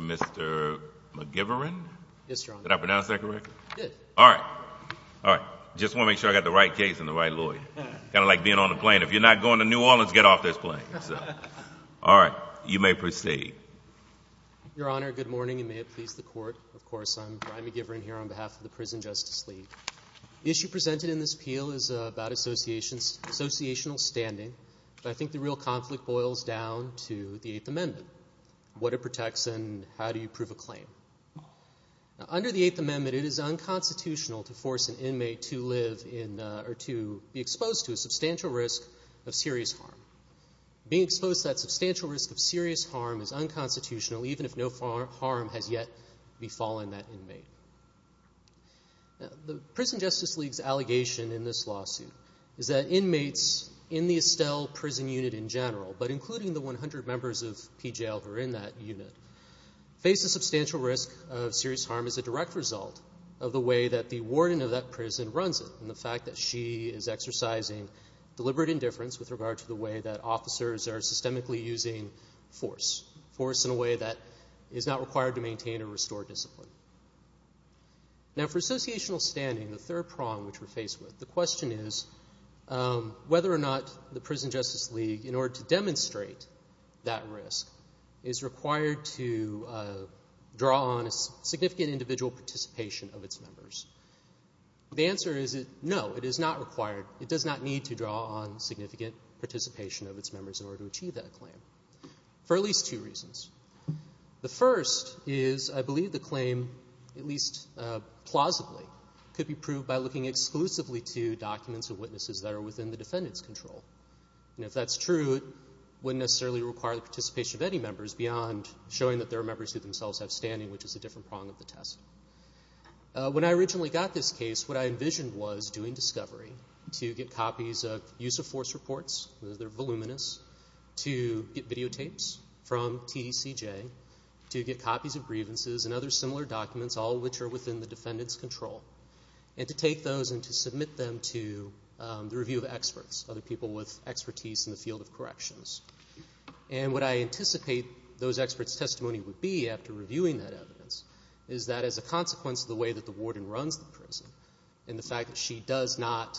Mr. McGivern, I just want to make sure I have the right case and the right lawyer. Kind of you're not going to New Orleans to get off this plane. All right, you may proceed. Brian McGivern Your Honor, good morning and may it please the court. Of course, I'm Brian McGivern here on behalf of the Prison Justice League. The issue presented in this appeal is about associational standing, but I think the real conflict boils down to the Eighth Amendment, what it protects and how do you prove a claim. Under the Eighth Amendment, it is unconstitutional to force an inmate to be exposed to a substantial risk of serious harm. Being exposed to that substantial risk of serious harm is unconstitutional even if no harm has yet befallen that inmate. The Prison Justice League's allegation in this lawsuit is that inmates in the Estelle prison unit in general, but including the 100 members of PJL who are in that unit, face a substantial risk of serious harm as a direct result of the way that the warden of that prison runs it and the fact that she is exercising deliberate indifference with regard to the way that officers are systemically using force, force in a way that is not required to maintain or restore discipline. Now, for associational standing, the third prong which we're faced with, the question is whether or not the Prison Justice League, in order to demonstrate that risk, is required to draw on a significant individual participation of its members. The answer is no, it is not required. It does not need to draw on significant participation of its members in order to achieve that claim for at least two reasons. The first is I believe the claim, at least plausibly, could be proved by looking exclusively to documents of witnesses that are within the defendant's control. And if that's true, it wouldn't necessarily require the participation of any members beyond showing that there are members who themselves have standing, which is a different prong of the test. When I originally got this case, what I envisioned was doing discovery to get copies of use of force reports, they're voluminous, to get videotapes from TDCJ, to get copies of grievances and other similar documents, all of which are within the defendant's control, and to take those and to submit them to the review of experts, other people with expertise in the field of corrections. And what I anticipate those experts' testimony would be after reviewing that evidence is that as a consequence of the way that the warden runs the prison, and the fact that she does not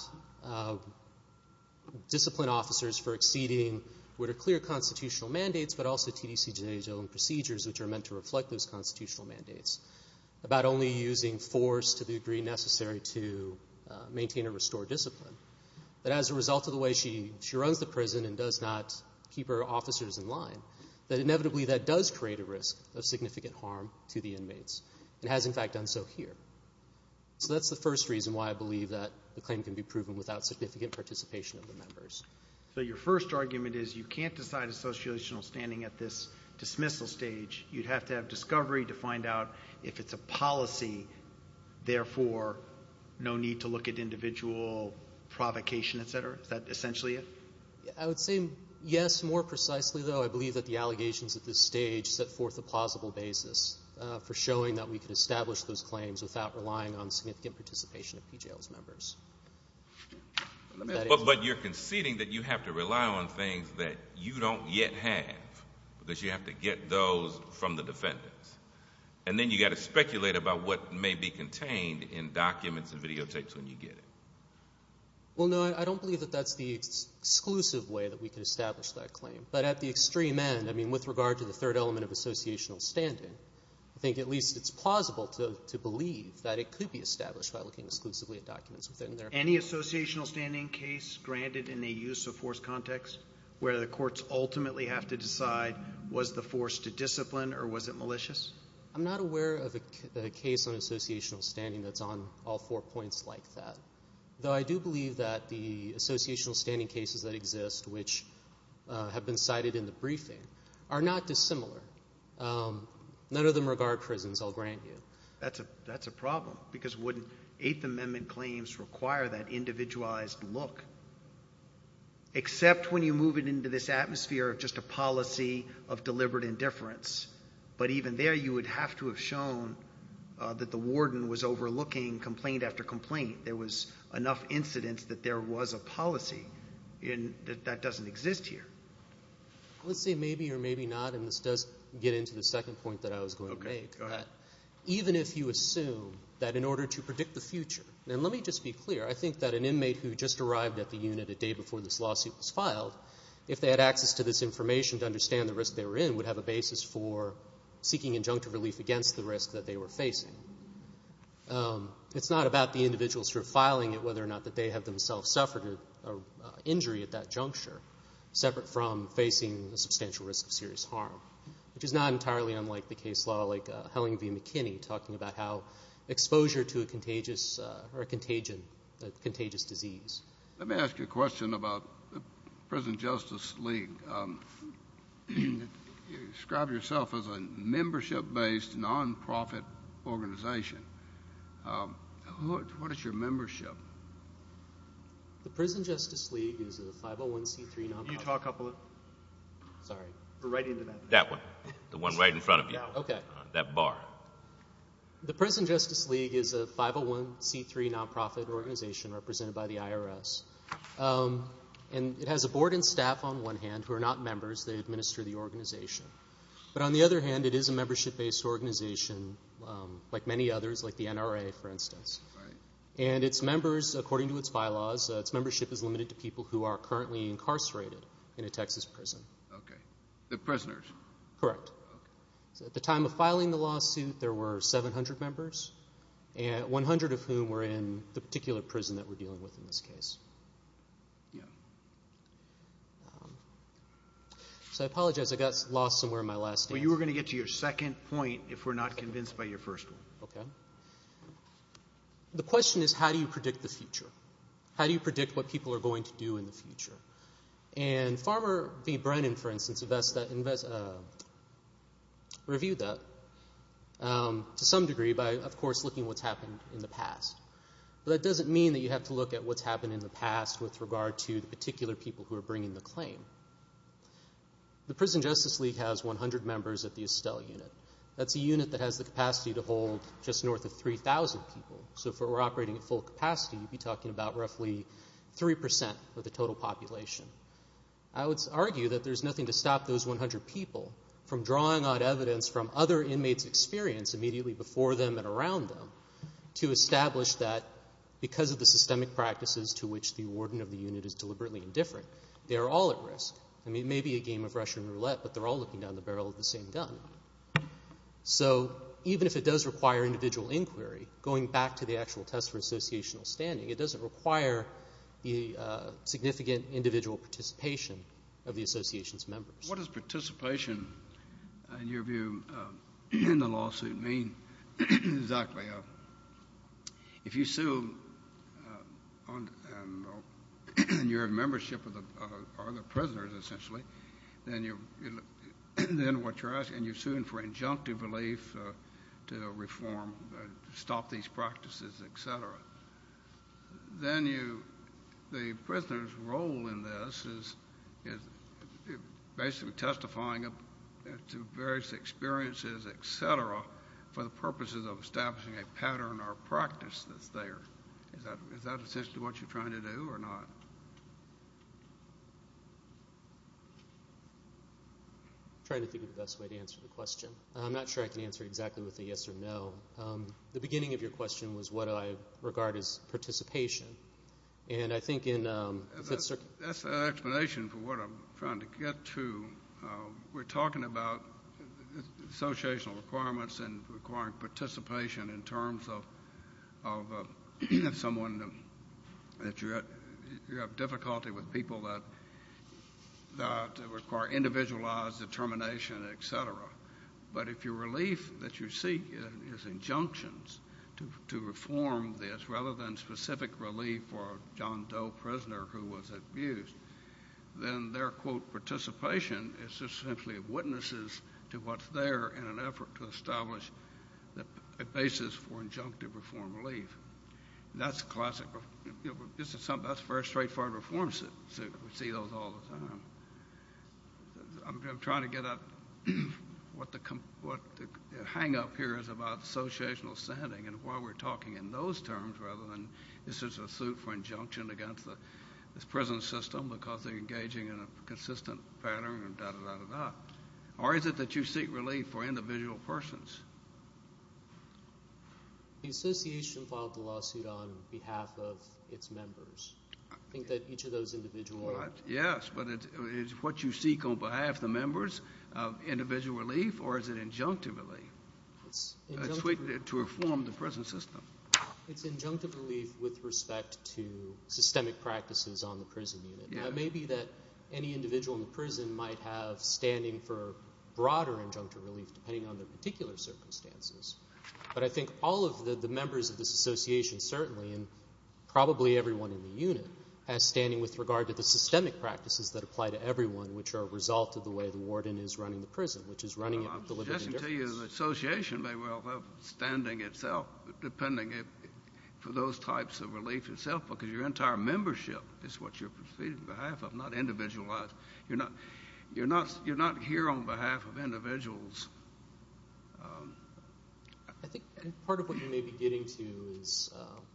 discipline officers for exceeding what are clear constitutional mandates, but also TDCJ's own procedures which are about only using force to the degree necessary to maintain or restore discipline, that as a result of the way she runs the prison and does not keep her officers in line, that inevitably that does create a risk of significant harm to the inmates, and has in fact done so here. So that's the first reason why I believe that the claim can be proven without significant participation of the members. So your first argument is you can't decide associational standing at this dismissal stage. You'd have to have discovery to find out if it's a policy, therefore no need to look at individual provocation, et cetera. Is that essentially it? I would say yes, more precisely, though. I believe that the allegations at this stage set forth a plausible basis for showing that we could establish those claims without relying on significant participation of PJL's members. But you're conceding that you have to rely on things that you don't yet have, because you have to get those from the defendants. And then you've got to speculate about what may be contained in documents and videotapes when you get it. Well, no, I don't believe that that's the exclusive way that we can establish that claim. But at the extreme end, I mean, with regard to the third element of associational standing, I think at least it's plausible to believe that it could be established by looking exclusively at documents within there. Any associational standing case granted in a use of force context where the courts ultimately have to discipline, or was it malicious? I'm not aware of a case on associational standing that's on all four points like that, though I do believe that the associational standing cases that exist, which have been cited in the briefing, are not dissimilar. None of them regard prisons, I'll grant you. That's a problem, because wouldn't Eighth Amendment claims require that individualized look? Except when you move it into this atmosphere of just a policy of deliberate indifference. But even there, you would have to have shown that the warden was overlooking complaint after complaint. There was enough incidence that there was a policy, and that doesn't exist here. Let's say maybe or maybe not, and this does get into the second point that I was going to make. Even if you assume that in order to predict the future, and let me just be clear, I think that an inmate who just arrived at the unit a day before this lawsuit was filed, if they had access to this information to understand the risk they were in, would have a basis for seeking injunctive relief against the risk that they were facing. It's not about the individual sort of filing it, whether or not they have themselves suffered an injury at that juncture, separate from facing a substantial risk of serious harm, which is not entirely unlike the case law like Helling v. McKinney, talking about how exposure to a contagious disease. Let me ask you a question about the Prison Justice League. You describe yourself as a membership-based, nonprofit organization. What is your membership? The Prison Justice League is a 501c3 nonprofit. Utah Couple. Sorry. We're right into that. That one. The one right in front of you. Okay. That bar. The Prison Justice League is a 501c3 nonprofit organization represented by the IRS, and it has a board and staff on one hand who are not members. They administer the organization. But on the other hand, it is a membership-based organization like many others, like the NRA, for instance. Right. And its members, according to its bylaws, its membership is limited to people who are currently incarcerated in a Texas prison. Okay. They're prisoners. Correct. Okay. So at the time of filing the lawsuit, there were 700 members, 100 of whom were in the particular prison that we're dealing with in this case. Yeah. So I apologize. I got lost somewhere in my last answer. Well, you were going to get to your second point if we're not convinced by your first one. Okay. The question is how do you predict the future? How do you predict what people are going to do in the future? And Farmer v. Brennan, for instance, reviewed that to some degree by, of course, looking at what's happened in the past. But that doesn't mean that you have to look at what's happened in the past with regard to the particular people who are bringing the claim. The Prison Justice League has 100 members at the Estelle unit. That's a unit that has the capacity to hold just north of 3,000 people. So if we're operating at full capacity, you'd be talking about roughly 3% of the total population. I would argue that there's nothing to stop those 100 people from drawing on evidence from other inmates' experience immediately before them and around them to establish that, because of the systemic practices to which the warden of the unit is deliberately indifferent, they are all at risk. I mean, it may be a game of Russian roulette, but they're all looking down the barrel of the same gun. So even if it does require individual inquiry, going back to the actual test for associational standing, it doesn't require the significant individual participation of the association's members. What does participation, in your view, in the lawsuit mean exactly? If you sue and you have membership of the prisoners, essentially, then what you're asking, you're suing for injunctive relief to reform, stop these practices, et cetera. Then the prisoner's role in this is basically testifying to various experiences, et cetera, for the purposes of establishing a pattern or practice that's there. Is that essentially what you're trying to do or not? I'm trying to think of the best way to answer the question. I'm not sure I can answer it exactly with a yes or no. The beginning of your question was what I regard as participation. That's an explanation for what I'm trying to get to. We're talking about associational requirements and requiring participation in terms of someone that you have difficulty with, people that require individualized determination, et cetera. But if your relief that you seek is injunctions to reform this rather than specific relief for a John Doe prisoner who was abused, then their, quote, participation is essentially witnesses to what's there in an effort to establish a basis for injunctive reform relief. That's classic. That's a very straightforward reform suit. We see those all the time. I'm trying to get at what the hang-up here is about associational standing and why we're talking in those terms rather than this is a suit for injunction against this prison system because they're engaging in a consistent pattern and da-da-da-da-da. Or is it that you seek relief for individual persons? The association filed the lawsuit on behalf of its members. I think that each of those individuals. Yes, but is what you seek on behalf of the members individual relief, or is it injunctive relief? It's injunctive relief. To reform the prison system. It's injunctive relief with respect to systemic practices on the prison unit. Now, it may be that any individual in the prison might have standing for broader injunctive relief depending on their particular circumstances, but I think all of the members of this association certainly, and probably everyone in the unit, has standing with regard to the systemic practices that apply to everyone which are a result of the way the warden is running the prison, which is running it with the liberty and justice. I can tell you the association may well have standing itself depending for those types of relief itself because your entire membership is what you're proceeding on behalf of, not individualized. You're not here on behalf of individuals. I think part of what you may be getting to is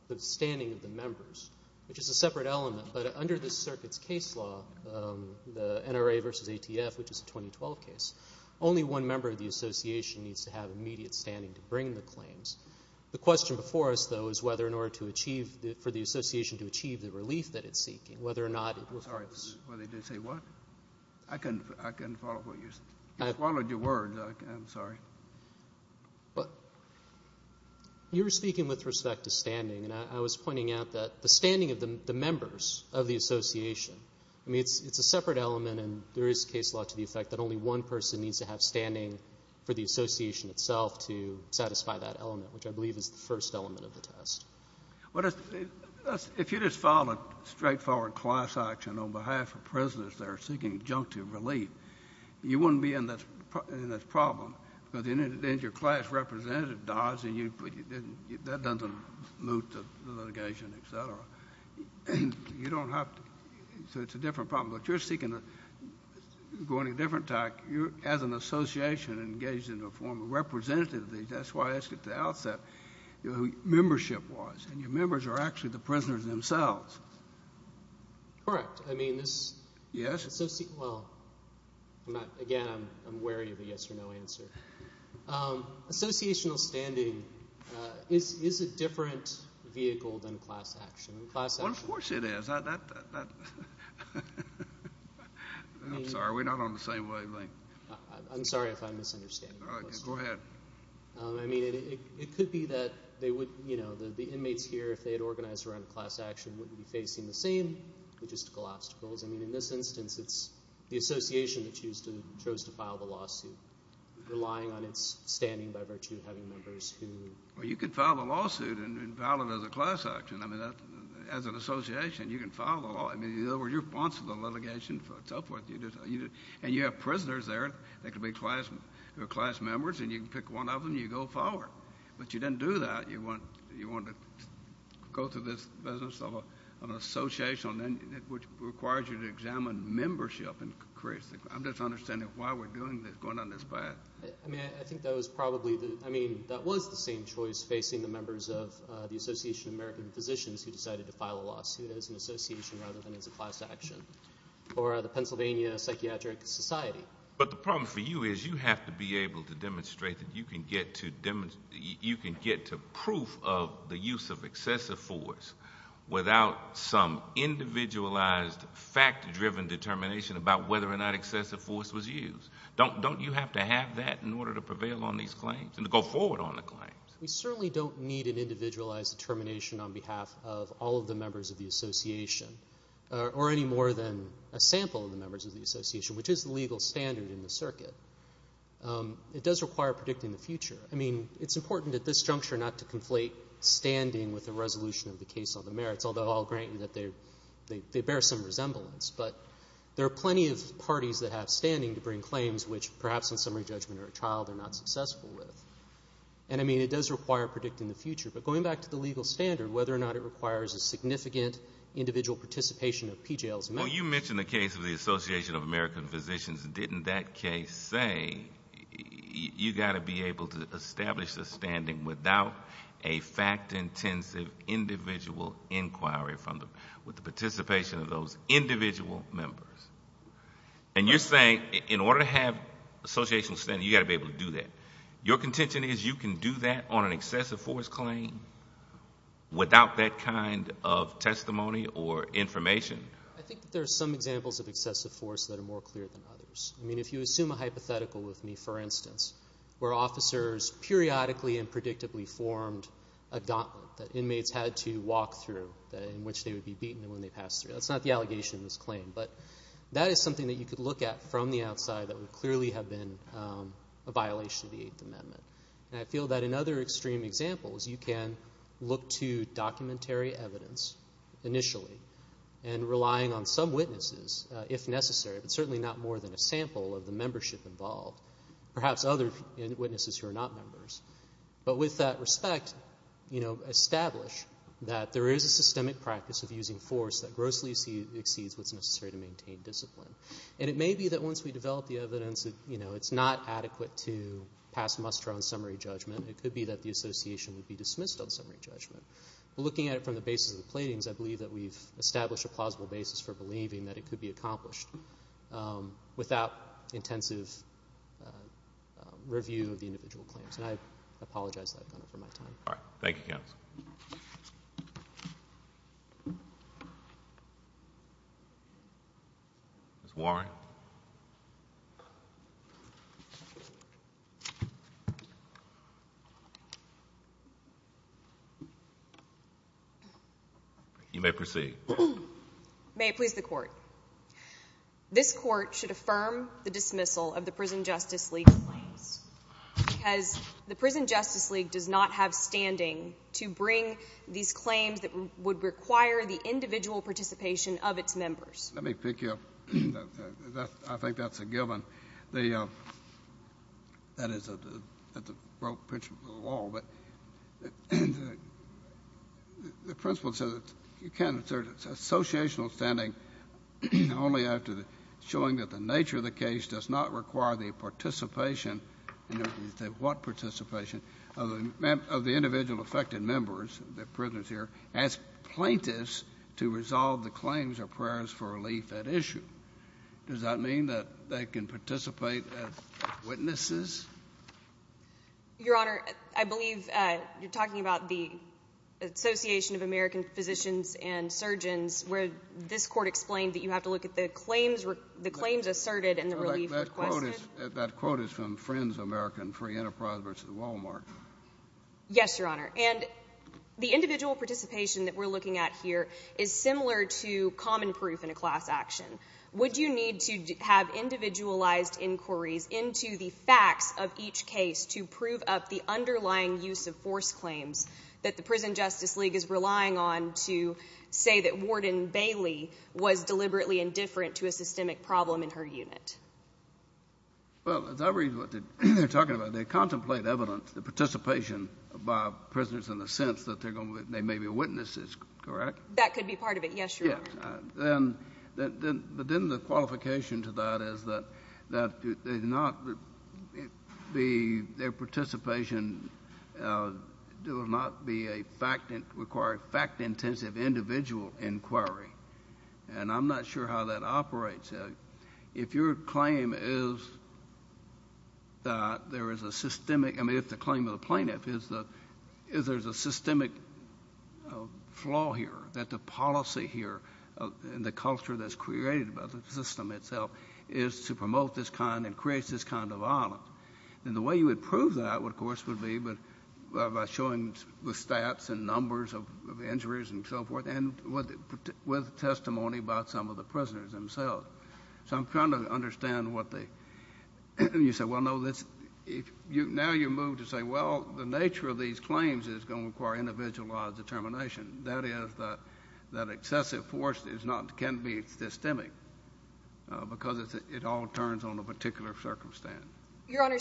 the standing of the members, which is a separate element, but under this circuit's case law, the NRA versus ATF, which is a 2012 case, only one member of the association needs to have immediate standing to bring the claims. The question before us, though, is whether in order for the association to achieve the relief that it's seeking, whether or not it works. I'm sorry. Did you say what? I couldn't follow what you said. You swallowed your words. I'm sorry. You were speaking with respect to standing, and I was pointing out that the standing of the members of the association, I mean it's a separate element and there is case law to the effect that only one person needs to have standing for the association itself to satisfy that element, which I believe is the first element of the test. If you just filed a straightforward class action on behalf of prisoners that are seeking junctive relief, you wouldn't be in this problem because then your class representative dies and you don't have to. So it's a different problem. But you're seeking a different type. As an association engaged in a form of representativeness, that's why I asked at the outset who membership was, and your members are actually the prisoners themselves. Correct. I mean this association, well, again, I'm wary of a yes or no answer. Associational standing is a different vehicle than class action. Of course it is. I'm sorry. We're not on the same wavelength. I'm sorry if I'm misunderstanding. Go ahead. I mean it could be that the inmates here, if they had organized around class action, wouldn't be facing the same logistical obstacles. I mean in this instance, it's the association that chose to file the lawsuit, relying on its standing by virtue of having members who... Well, you could file the lawsuit and file it as a class action. I mean as an association, you can file the law. In other words, you're responsible for litigation and so forth. And you have prisoners there that could be class members, and you can pick one of them and you go forward. But you didn't do that. You wanted to go through this business of an association, which requires you to examine membership and create... I'm just understanding why we're going down this path. I mean I think that was probably the... I mean that was the same choice facing the members of the Association of American Physicians who decided to file a lawsuit as an association rather than as a class action, or the Pennsylvania Psychiatric Society. But the problem for you is you have to be able to demonstrate that you can get to proof of the use of excessive force without some individualized, fact-driven determination about whether or not excessive force was used. Don't you have to have that in order to prevail on these claims and to go forward on the claims? We certainly don't need an individualized determination on behalf of all of the members of the association, or any more than a sample of the members of the association, which is the legal standard in the circuit. It does require predicting the future. I mean it's important at this juncture not to conflate standing with the resolution of the case on the merits, although I'll grant you that they bear some resemblance. But there are plenty of parties that have standing to bring claims, which perhaps in summary judgment or a trial they're not successful with. And I mean it does require predicting the future. But going back to the legal standard, whether or not it requires a significant individual participation of PJLs. Well, you mentioned the case of the Association of American Physicians. Didn't that case say you've got to be able to establish a standing without a fact-intensive individual inquiry with the participation of those individual members? And you're saying in order to have associational standing you've got to be able to do that. Your contention is you can do that on an excessive force claim without that kind of testimony or information? I think there are some examples of excessive force that are more clear than others. I mean if you assume a hypothetical with me, for instance, where officers periodically and predictably formed a gauntlet that inmates had to walk through, in which they would be beaten when they passed through. That's not the allegation in this claim, but that is something that you could look at from the outside that would clearly have been a violation of the Eighth Amendment. And I feel that in other extreme examples you can look to documentary evidence initially and relying on some witnesses if necessary, but certainly not more than a sample of the membership involved, perhaps other witnesses who are not members. But with that respect, establish that there is a systemic practice of using force that grossly exceeds what's necessary to maintain discipline. And it may be that once we develop the evidence it's not adequate to pass muster on summary judgment. It could be that the association would be dismissed on summary judgment. But looking at it from the basis of the plaintiffs, I believe that we've established a plausible basis for believing that it could be accomplished without intensive review of the individual claims. And I apologize that I've gone over my time. All right. Thank you, counsel. Ms. Warren. You may proceed. May it please the Court. This Court should affirm the dismissal of the Prison Justice League claims because the Prison Justice League does not have standing to bring these claims that would require the individual participation of its members. Let me pick you up. I think that's a given. That is the principle of the law. The principle says you can't assert associational standing only after showing that the nature of the case does not require the participation, what participation, of the individual affected members, the prisoners here, as plaintiffs to resolve the claims or prayers for relief at issue. Does that mean that they can participate as witnesses? Your Honor, I believe you're talking about the Association of American Physicians and Surgeons where this Court explained that you have to look at the claims asserted and the relief requested. That quote is from Friends of American Free Enterprise v. Walmart. Yes, Your Honor. And the individual participation that we're looking at here is similar to common proof in a class action. Would you need to have individualized inquiries into the facts of each case to prove up the underlying use of force claims that the Prison Justice League is relying on to say that Warden Bailey was deliberately indifferent to a systemic problem in her unit? Well, as I read what they're talking about, they contemplate evidence of participation by prisoners in the sense that they may be witnesses, correct? That could be part of it. Yes, Your Honor. But then the qualification to that is that their participation will not require fact-intensive individual inquiry, and I'm not sure how that operates. If your claim is that there is a systemic – the culture that's created by the system itself is to promote this kind and creates this kind of violence, then the way you would prove that, of course, would be by showing the stats and numbers of injuries and so forth and with testimony about some of the prisoners themselves. So I'm trying to understand what the – you say, well, no, now you move to say, well, the nature of these claims is going to require individualized determination. That is that excessive force is not – can be systemic because it all turns on a particular circumstance. Your Honor,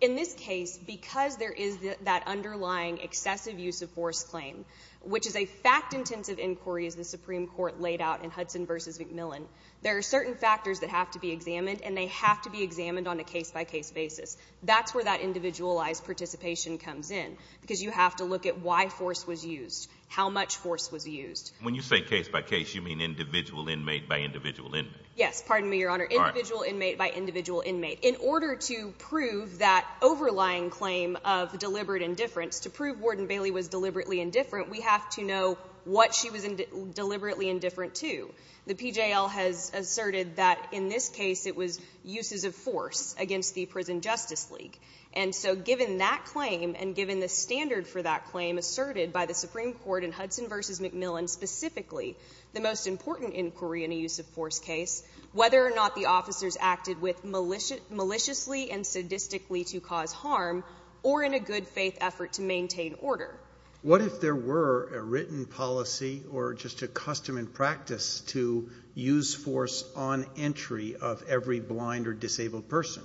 in this case, because there is that underlying excessive use of force claim, which is a fact-intensive inquiry, as the Supreme Court laid out in Hudson v. McMillan, there are certain factors that have to be examined, and they have to be examined on a case-by-case basis. That's where that individualized participation comes in, because you have to look at why force was used, how much force was used. When you say case-by-case, you mean individual inmate by individual inmate. Yes. Pardon me, Your Honor. Individual inmate by individual inmate. In order to prove that overlying claim of deliberate indifference, to prove Warden Bailey was deliberately indifferent, we have to know what she was deliberately indifferent to. The PJL has asserted that in this case it was uses of force against the Prison Justice League. And so given that claim and given the standard for that claim asserted by the Supreme Court in Hudson v. McMillan, specifically the most important inquiry in a use-of-force case, whether or not the officers acted maliciously and sadistically to cause harm or in a good-faith effort to maintain order. What if there were a written policy or just a custom and practice to use force on entry of every blind or disabled person?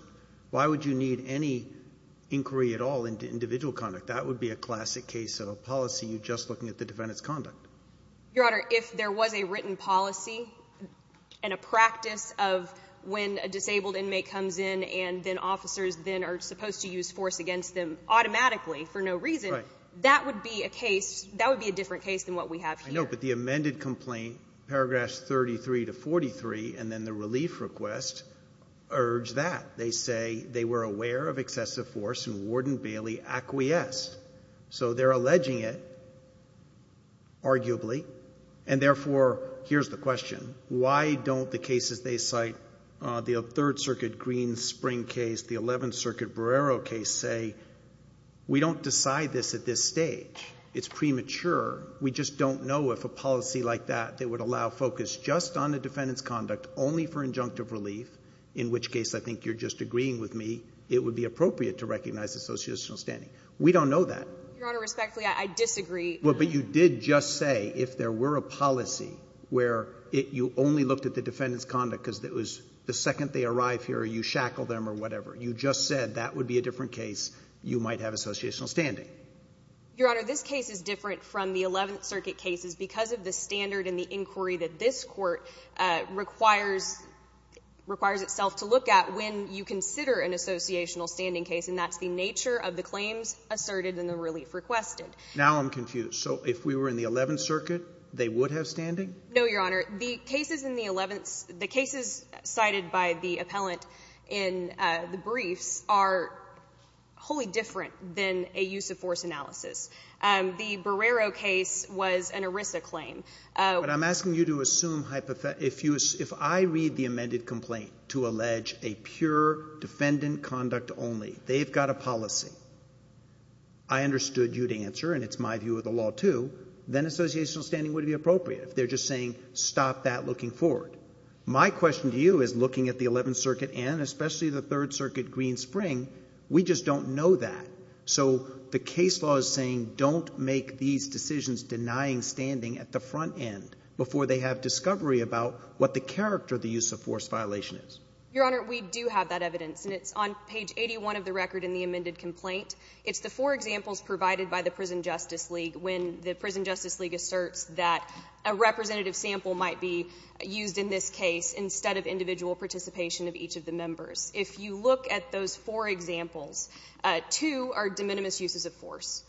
Why would you need any inquiry at all into individual conduct? That would be a classic case of a policy, you just looking at the defendant's conduct. Your Honor, if there was a written policy and a practice of when a disabled inmate comes in and then officers then are supposed to use force against them automatically for no reason, that would be a case, that would be a different case than what we have here. I know, but the amended complaint, paragraphs 33 to 43, and then the relief request, urge that. They say they were aware of excessive force and Warden Bailey acquiesced. So they're alleging it, arguably. And therefore, here's the question, why don't the cases they cite, the Third Circuit Green Spring case, the Eleventh Circuit Barrero case, say we don't decide this at this stage? It's premature. We just don't know if a policy like that that would allow focus just on the defendant's conduct, only for injunctive relief, in which case I think you're just agreeing with me, it would be appropriate to recognize associational standing. We don't know that. Your Honor, respectfully, I disagree. Well, but you did just say if there were a policy where you only looked at the defendant's or you shackled them or whatever. You just said that would be a different case. You might have associational standing. Your Honor, this case is different from the Eleventh Circuit cases because of the standard and the inquiry that this Court requires itself to look at when you consider an associational standing case, and that's the nature of the claims asserted and the relief requested. Now I'm confused. So if we were in the Eleventh Circuit, they would have standing? No, Your Honor. The cases cited by the appellant in the briefs are wholly different than a use-of-force analysis. The Barrero case was an ERISA claim. But I'm asking you to assume hypothetical – if I read the amended complaint to allege a pure defendant conduct only, they've got a policy, I understood you'd answer, and it's my view of the law too, then associational standing would be appropriate. If they're just saying stop that looking forward. My question to you is looking at the Eleventh Circuit and especially the Third Circuit Greenspring, we just don't know that. So the case law is saying don't make these decisions denying standing at the front end before they have discovery about what the character of the use-of-force violation is. Your Honor, we do have that evidence, and it's on page 81 of the record in the amended complaint. It's the four examples provided by the Prison Justice League when the Prison Justice League asserts that a representative sample might be used in this case instead of individual participation of each of the members. If you look at those four examples, two are de minimis uses of force.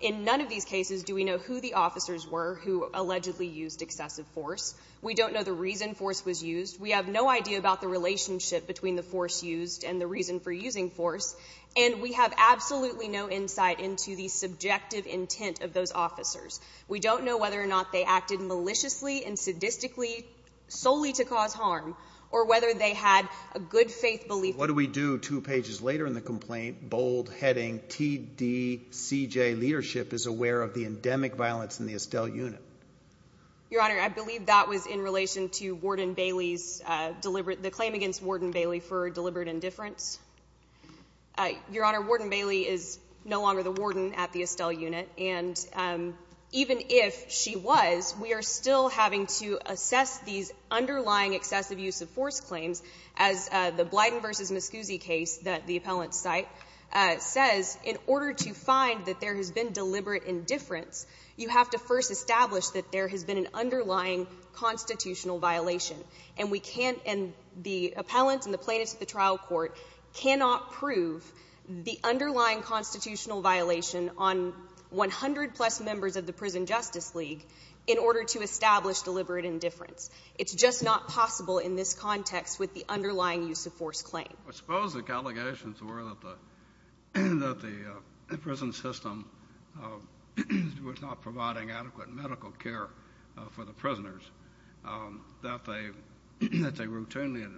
In none of these cases do we know who the officers were who allegedly used excessive force. We don't know the reason force was used. We have no idea about the relationship between the force used and the reason for using force. And we have absolutely no insight into the subjective intent of those officers. We don't know whether or not they acted maliciously and sadistically solely to cause harm or whether they had a good faith belief. What do we do two pages later in the complaint? Bold heading TDCJ leadership is aware of the endemic violence in the Estelle unit. Your Honor, I believe that was in relation to Warden Bailey's deliberate the claim against Warden Bailey for deliberate indifference. Your Honor, Warden Bailey is no longer the warden at the Estelle unit. And even if she was, we are still having to assess these underlying excessive use of force claims. As the Blyden v. Mascuzzi case that the appellant cite says, in order to find that there has been deliberate indifference, you have to first establish that there has been an underlying constitutional violation. And the appellant and the plaintiffs of the trial court cannot prove the underlying constitutional violation on 100 plus members of the Prison Justice League in order to establish deliberate indifference. It's just not possible in this context with the underlying use of force claim. I suppose the allegations were that the prison system was not providing adequate medical care for the prisoners, that they routinely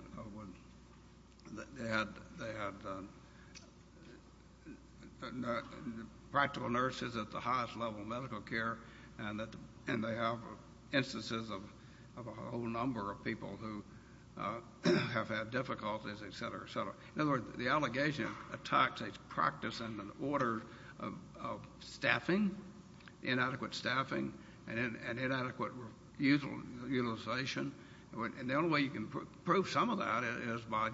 had practical nurses at the highest level of medical care, and they have instances of a whole number of people who have had difficulties, et cetera, et cetera. In other words, the allegation attacks its practice and the order of staffing, inadequate staffing and inadequate utilization. And the only way you can prove some of that is by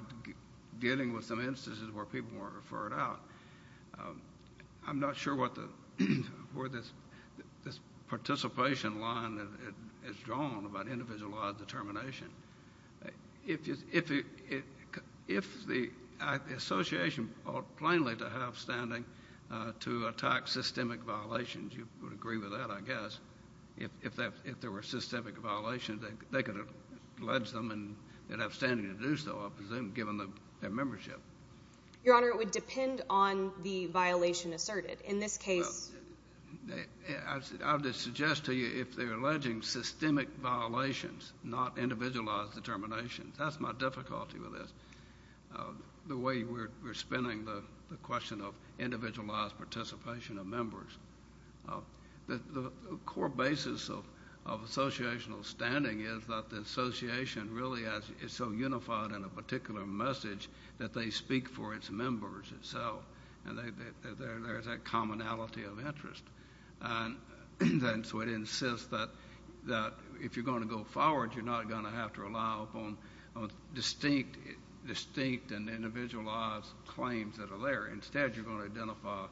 dealing with some instances where people weren't referred out. I'm not sure where this participation line is drawn about individualized determination. If the association ought plainly to have standing to attack systemic violations, you would agree with that, I guess. If there were systemic violations, they could allege them and have standing to do so, I presume, given their membership. Your Honor, it would depend on the violation asserted. In this case... I would suggest to you if they're alleging systemic violations, not individualized determination, that's my difficulty with this, the way we're spinning the question of individualized participation of members. The core basis of associational standing is that the association really is so unified in a particular message that they speak for its members itself, and there's that commonality of interest. And so it insists that if you're going to go forward, you're not going to have to rely upon distinct and individualized claims that are there. Instead, you're going to identify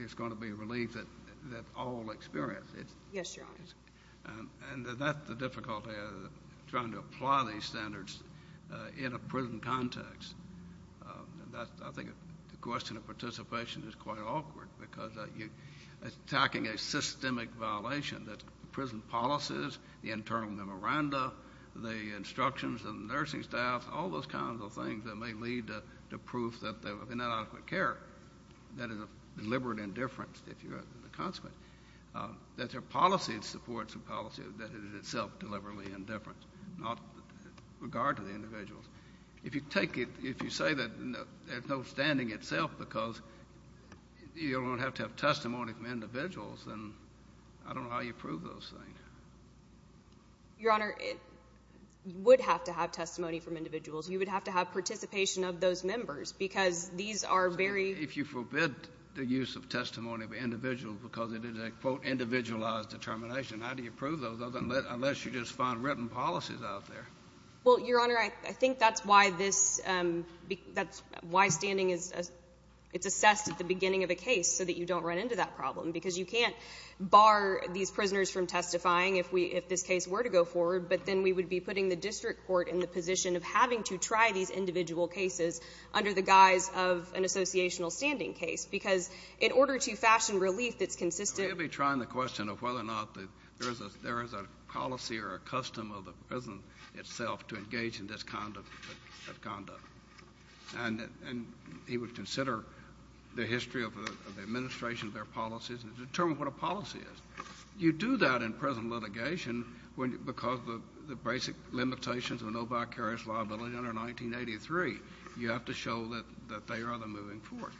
it's going to be a relief that all experience it. Yes, Your Honor. And that's the difficulty of trying to apply these standards in a prison context. I think the question of participation is quite awkward because you're attacking a systemic violation that prison policies, the internal memoranda, the instructions of the nursing staff, all those kinds of things that may lead to proof that they're not adequate care. That is a deliberate indifference, if you have a consequence. That their policy supports a policy that is itself deliberately indifferent, not with regard to the individuals. If you say that there's no standing itself because you don't have to have testimony from individuals, then I don't know how you prove those things. Your Honor, you would have to have testimony from individuals. You would have to have participation of those members because these are very— If you forbid the use of testimony of individuals because it is a, quote, individualized determination, how do you prove those unless you just find written policies out there? Well, Your Honor, I think that's why this— that's why standing is assessed at the beginning of a case so that you don't run into that problem because you can't bar these prisoners from testifying if this case were to go forward, but then we would be putting the district court in the position of having to try these individual cases under the guise of an associational standing case because in order to fashion relief that's consistent— We'll be trying the question of whether or not there is a policy or a custom of the prison itself to engage in this kind of conduct. And he would consider the history of the administration of their policies and determine what a policy is. You do that in prison litigation because the basic limitations of no vicarious liability under 1983, you have to show that they are the moving force.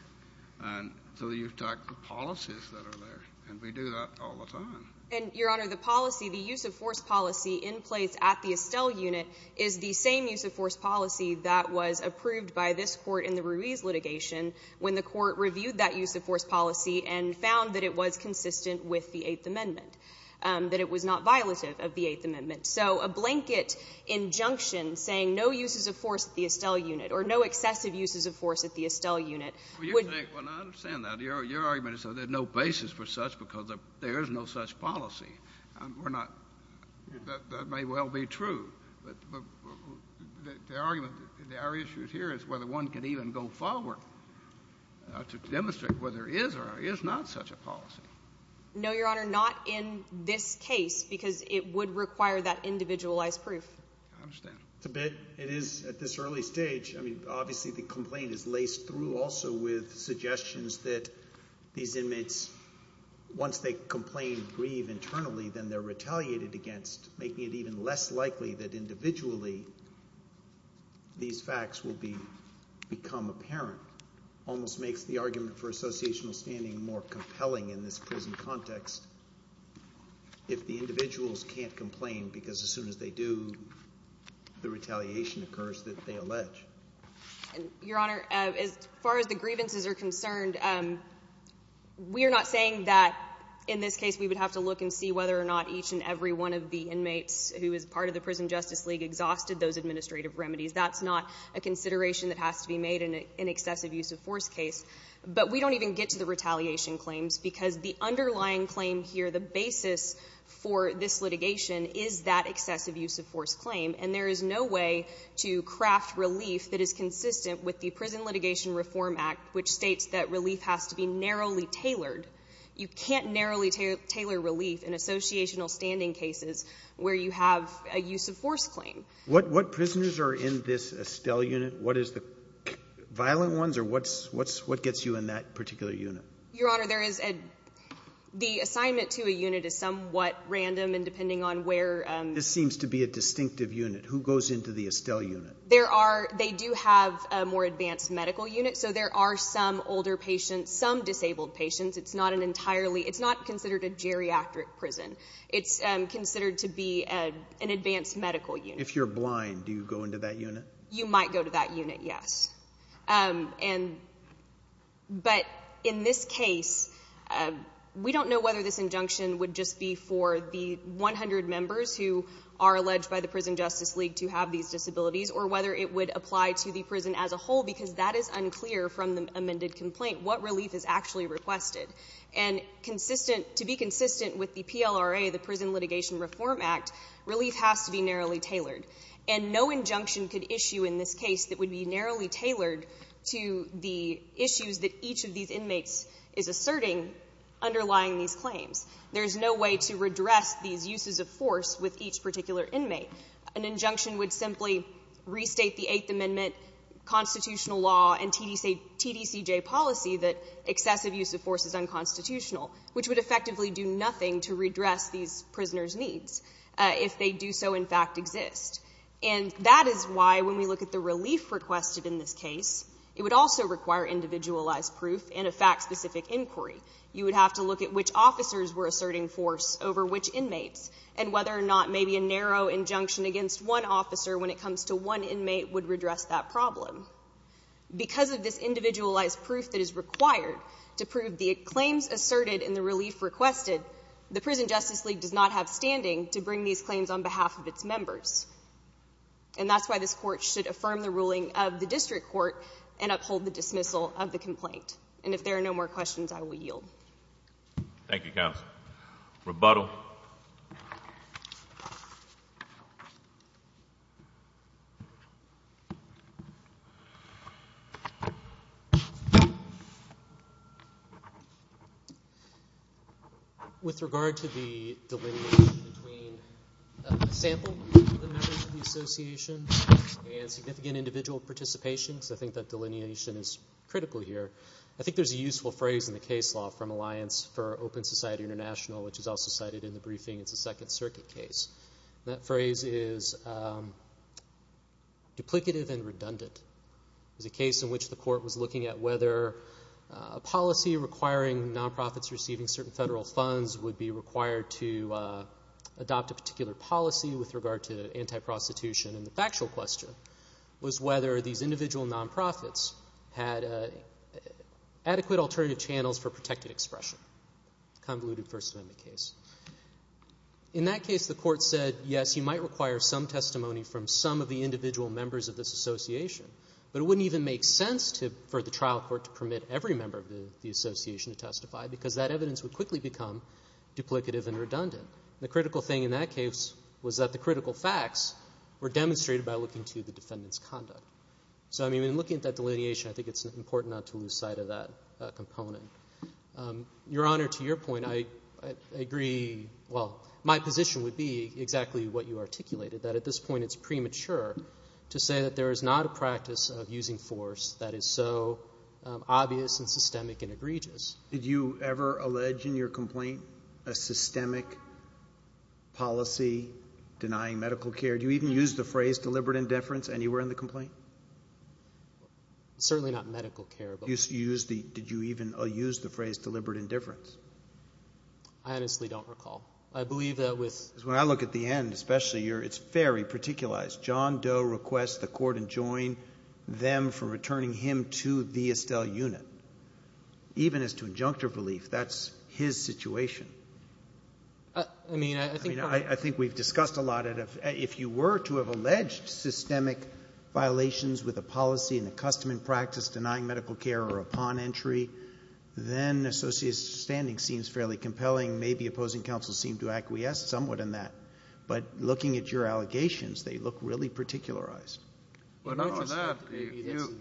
And so you've got the policies that are there, and we do that all the time. And, Your Honor, the policy, the use-of-force policy in place at the Estelle unit is the same use-of-force policy that was approved by this Court in the Ruiz litigation when the Court reviewed that use-of-force policy and found that it was consistent with the Eighth Amendment, that it was not violative of the Eighth Amendment. So a blanket injunction saying no uses of force at the Estelle unit or no excessive uses of force at the Estelle unit would— Well, I understand that. Your argument is that there's no basis for such because there is no such policy. We're not—that may well be true. But the argument that there are issues here is whether one can even go forward to demonstrate whether there is or is not such a policy. No, Your Honor, not in this case because it would require that individualized proof. I understand. It's a bit—it is at this early stage. I mean, obviously the complaint is laced through also with suggestions that these inmates, once they complain, grieve internally, then they're retaliated against, making it even less likely that individually these facts will become apparent. It almost makes the argument for associational standing more compelling in this prison context if the individuals can't complain because as soon as they do, the retaliation occurs that they allege. Your Honor, as far as the grievances are concerned, we are not saying that in this case we would have to look and see whether or not each and every one of the inmates who is part of the Prison Justice League exhausted those administrative remedies. That's not a consideration that has to be made in an excessive use of force case. But we don't even get to the retaliation claims because the underlying claim here, the basis for this litigation, is that excessive use of force claim. And there is no way to craft relief that is consistent with the Prison Litigation Reform Act, which states that relief has to be narrowly tailored. You can't narrowly tailor relief in associational standing cases where you have a use of force claim. What prisoners are in this Estelle unit? What is the—violent ones or what gets you in that particular unit? Your Honor, there is a—the assignment to a unit is somewhat random, and depending on where— This seems to be a distinctive unit. Who goes into the Estelle unit? There are—they do have a more advanced medical unit, so there are some older patients, some disabled patients. It's not an entirely—it's not considered a geriatric prison. It's considered to be an advanced medical unit. If you're blind, do you go into that unit? You might go to that unit, yes. And—but in this case, we don't know whether this injunction would just be for the 100 members who are alleged by the Prison Justice League to have these disabilities or whether it would apply to the prison as a whole because that is unclear from the amended complaint, what relief is actually requested. And consistent—to be consistent with the PLRA, the Prison Litigation Reform Act, relief has to be narrowly tailored. And no injunction could issue in this case that would be narrowly tailored to the issues that each of these inmates is asserting underlying these claims. There is no way to redress these uses of force with each particular inmate. An injunction would simply restate the Eighth Amendment constitutional law and TDCJ policy that excessive use of force is unconstitutional, which would effectively do nothing to redress these prisoners' needs if they do so in fact exist. And that is why when we look at the relief requested in this case, it would also require individualized proof and a fact-specific inquiry. You would have to look at which officers were asserting force over which inmates and whether or not maybe a narrow injunction against one officer when it comes to one inmate would redress that problem. Because of this individualized proof that is required to prove the claims asserted and the relief requested, the Prison Justice League does not have standing to bring these claims on behalf of its members. And that's why this Court should affirm the ruling of the District Court and uphold the dismissal of the complaint. And if there are no more questions, I will yield. Thank you, Counsel. Rebuttal. With regard to the delineation between a sample of the members of the Association and significant individual participation, because I think that delineation is critical here, I think there's a useful phrase in the case law from Alliance for Open Society International, which is also cited in the briefing. It's a Second Circuit case. That phrase is duplicative and redundant. It's a case in which the Court was looking at whether a policy requiring nonprofits receiving certain federal funds would be required to adopt a particular policy with regard to anti-prostitution. And the factual question was whether these individual nonprofits had adequate alternative channels for protected expression. A convoluted First Amendment case. In that case, the Court said, yes, you might require some testimony from some of the individual members of this Association, but it wouldn't even make sense for the trial court to permit every member of the Association to testify because that evidence would quickly become duplicative and redundant. The critical thing in that case was that the critical facts were demonstrated by looking to the defendant's conduct. So, I mean, in looking at that delineation, I think it's important not to lose sight of that component. Your Honor, to your point, I agree. Well, my position would be exactly what you articulated, that at this point it's premature to say that there is not a practice of using force that is so obvious and systemic and egregious. Did you ever allege in your complaint a systemic policy denying medical care? Do you even use the phrase deliberate indifference anywhere in the complaint? Certainly not medical care. Did you even use the phrase deliberate indifference? I honestly don't recall. I believe that with... Because when I look at the end, especially, it's very particularized. John Doe requests the Court enjoin them from returning him to the Estelle unit, even as to injunctive relief. That's his situation. I mean, I think... I mean, I think we've discussed a lot. If you were to have alleged systemic violations with a policy and a custom and practice denying medical care or a pawn entry, then Associate's standing seems fairly compelling. Maybe opposing counsel seemed to acquiesce somewhat in that. But looking at your allegations, they look really particularized. Well, not only that.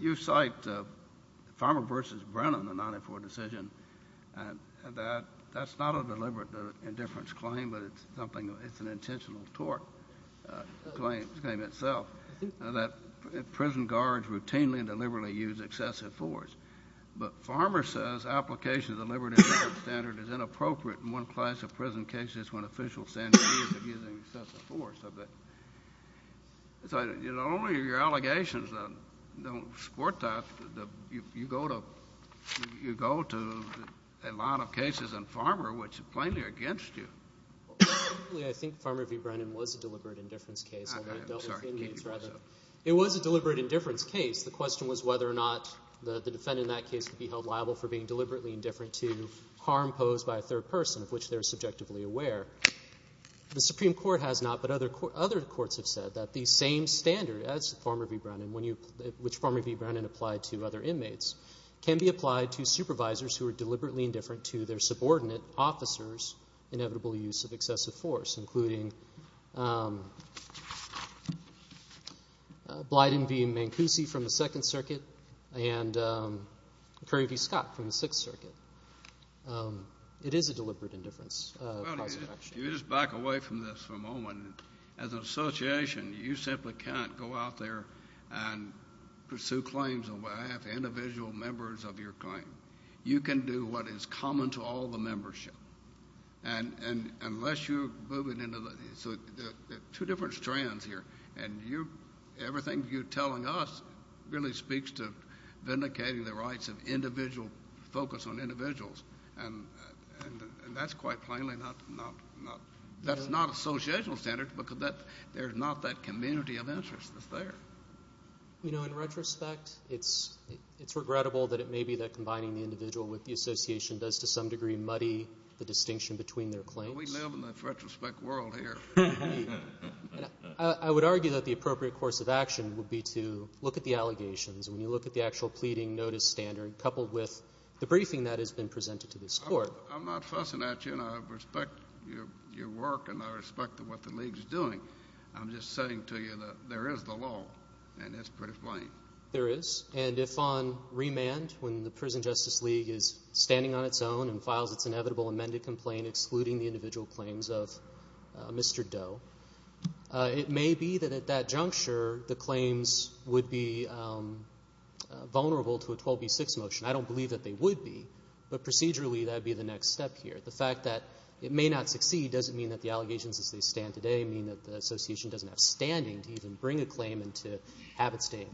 You cite Farmer v. Brennan, the 94 decision, and that's not a deliberate indifference claim, but it's an intentional tort claim in itself, that prison guards routinely and deliberately use excessive force. But Farmer says application of the deliberate indifference standard is inappropriate in one class of prison cases when officials stand accused of using excessive force. So not only are your allegations that don't support that, you go to a lot of cases in Farmer which are plainly against you. I think Farmer v. Brennan was a deliberate indifference case. I'm sorry. It was a deliberate indifference case. The question was whether or not the defendant in that case could be held liable for being deliberately indifferent to harm posed by a third person of which they're subjectively aware. The Supreme Court has not, but other courts have said that the same standard as Farmer v. Brennan, which Farmer v. Brennan applied to other inmates, can be applied to supervisors who are deliberately indifferent to their subordinate officers' inevitable use of excessive force, including Blyden v. Mancusi from the Second Circuit and Curry v. Scott from the Sixth Circuit. It is a deliberate indifference. You just back away from this for a moment. As an association, you simply can't go out there and pursue claims on behalf of individual members of your claim. You can do what is common to all the membership. So there are two different strands here, and everything you're telling us really speaks to vindicating the rights of individual focus on individuals, and that's quite plainly not associational standards because there's not that community of interest that's there. In retrospect, it's regrettable that it may be that combining the individual with the association does to some degree muddy the distinction between their claims. We live in the retrospect world here. I would argue that the appropriate course of action would be to look at the allegations. When you look at the actual pleading notice standard coupled with the briefing that has been presented to this Court. I'm not fussing at you, and I respect your work, and I respect what the League is doing. I'm just saying to you that there is the law, and it's pretty plain. There is. And if on remand, when the Prison Justice League is standing on its own and files its inevitable amended complaint excluding the individual claims of Mr. Doe, it may be that at that juncture the claims would be vulnerable to a 12B6 motion. I don't believe that they would be, but procedurally that would be the next step here. The fact that it may not succeed doesn't mean that the allegations as they stand today doesn't mean that the association doesn't have standing to even bring a claim and to have it stay in court.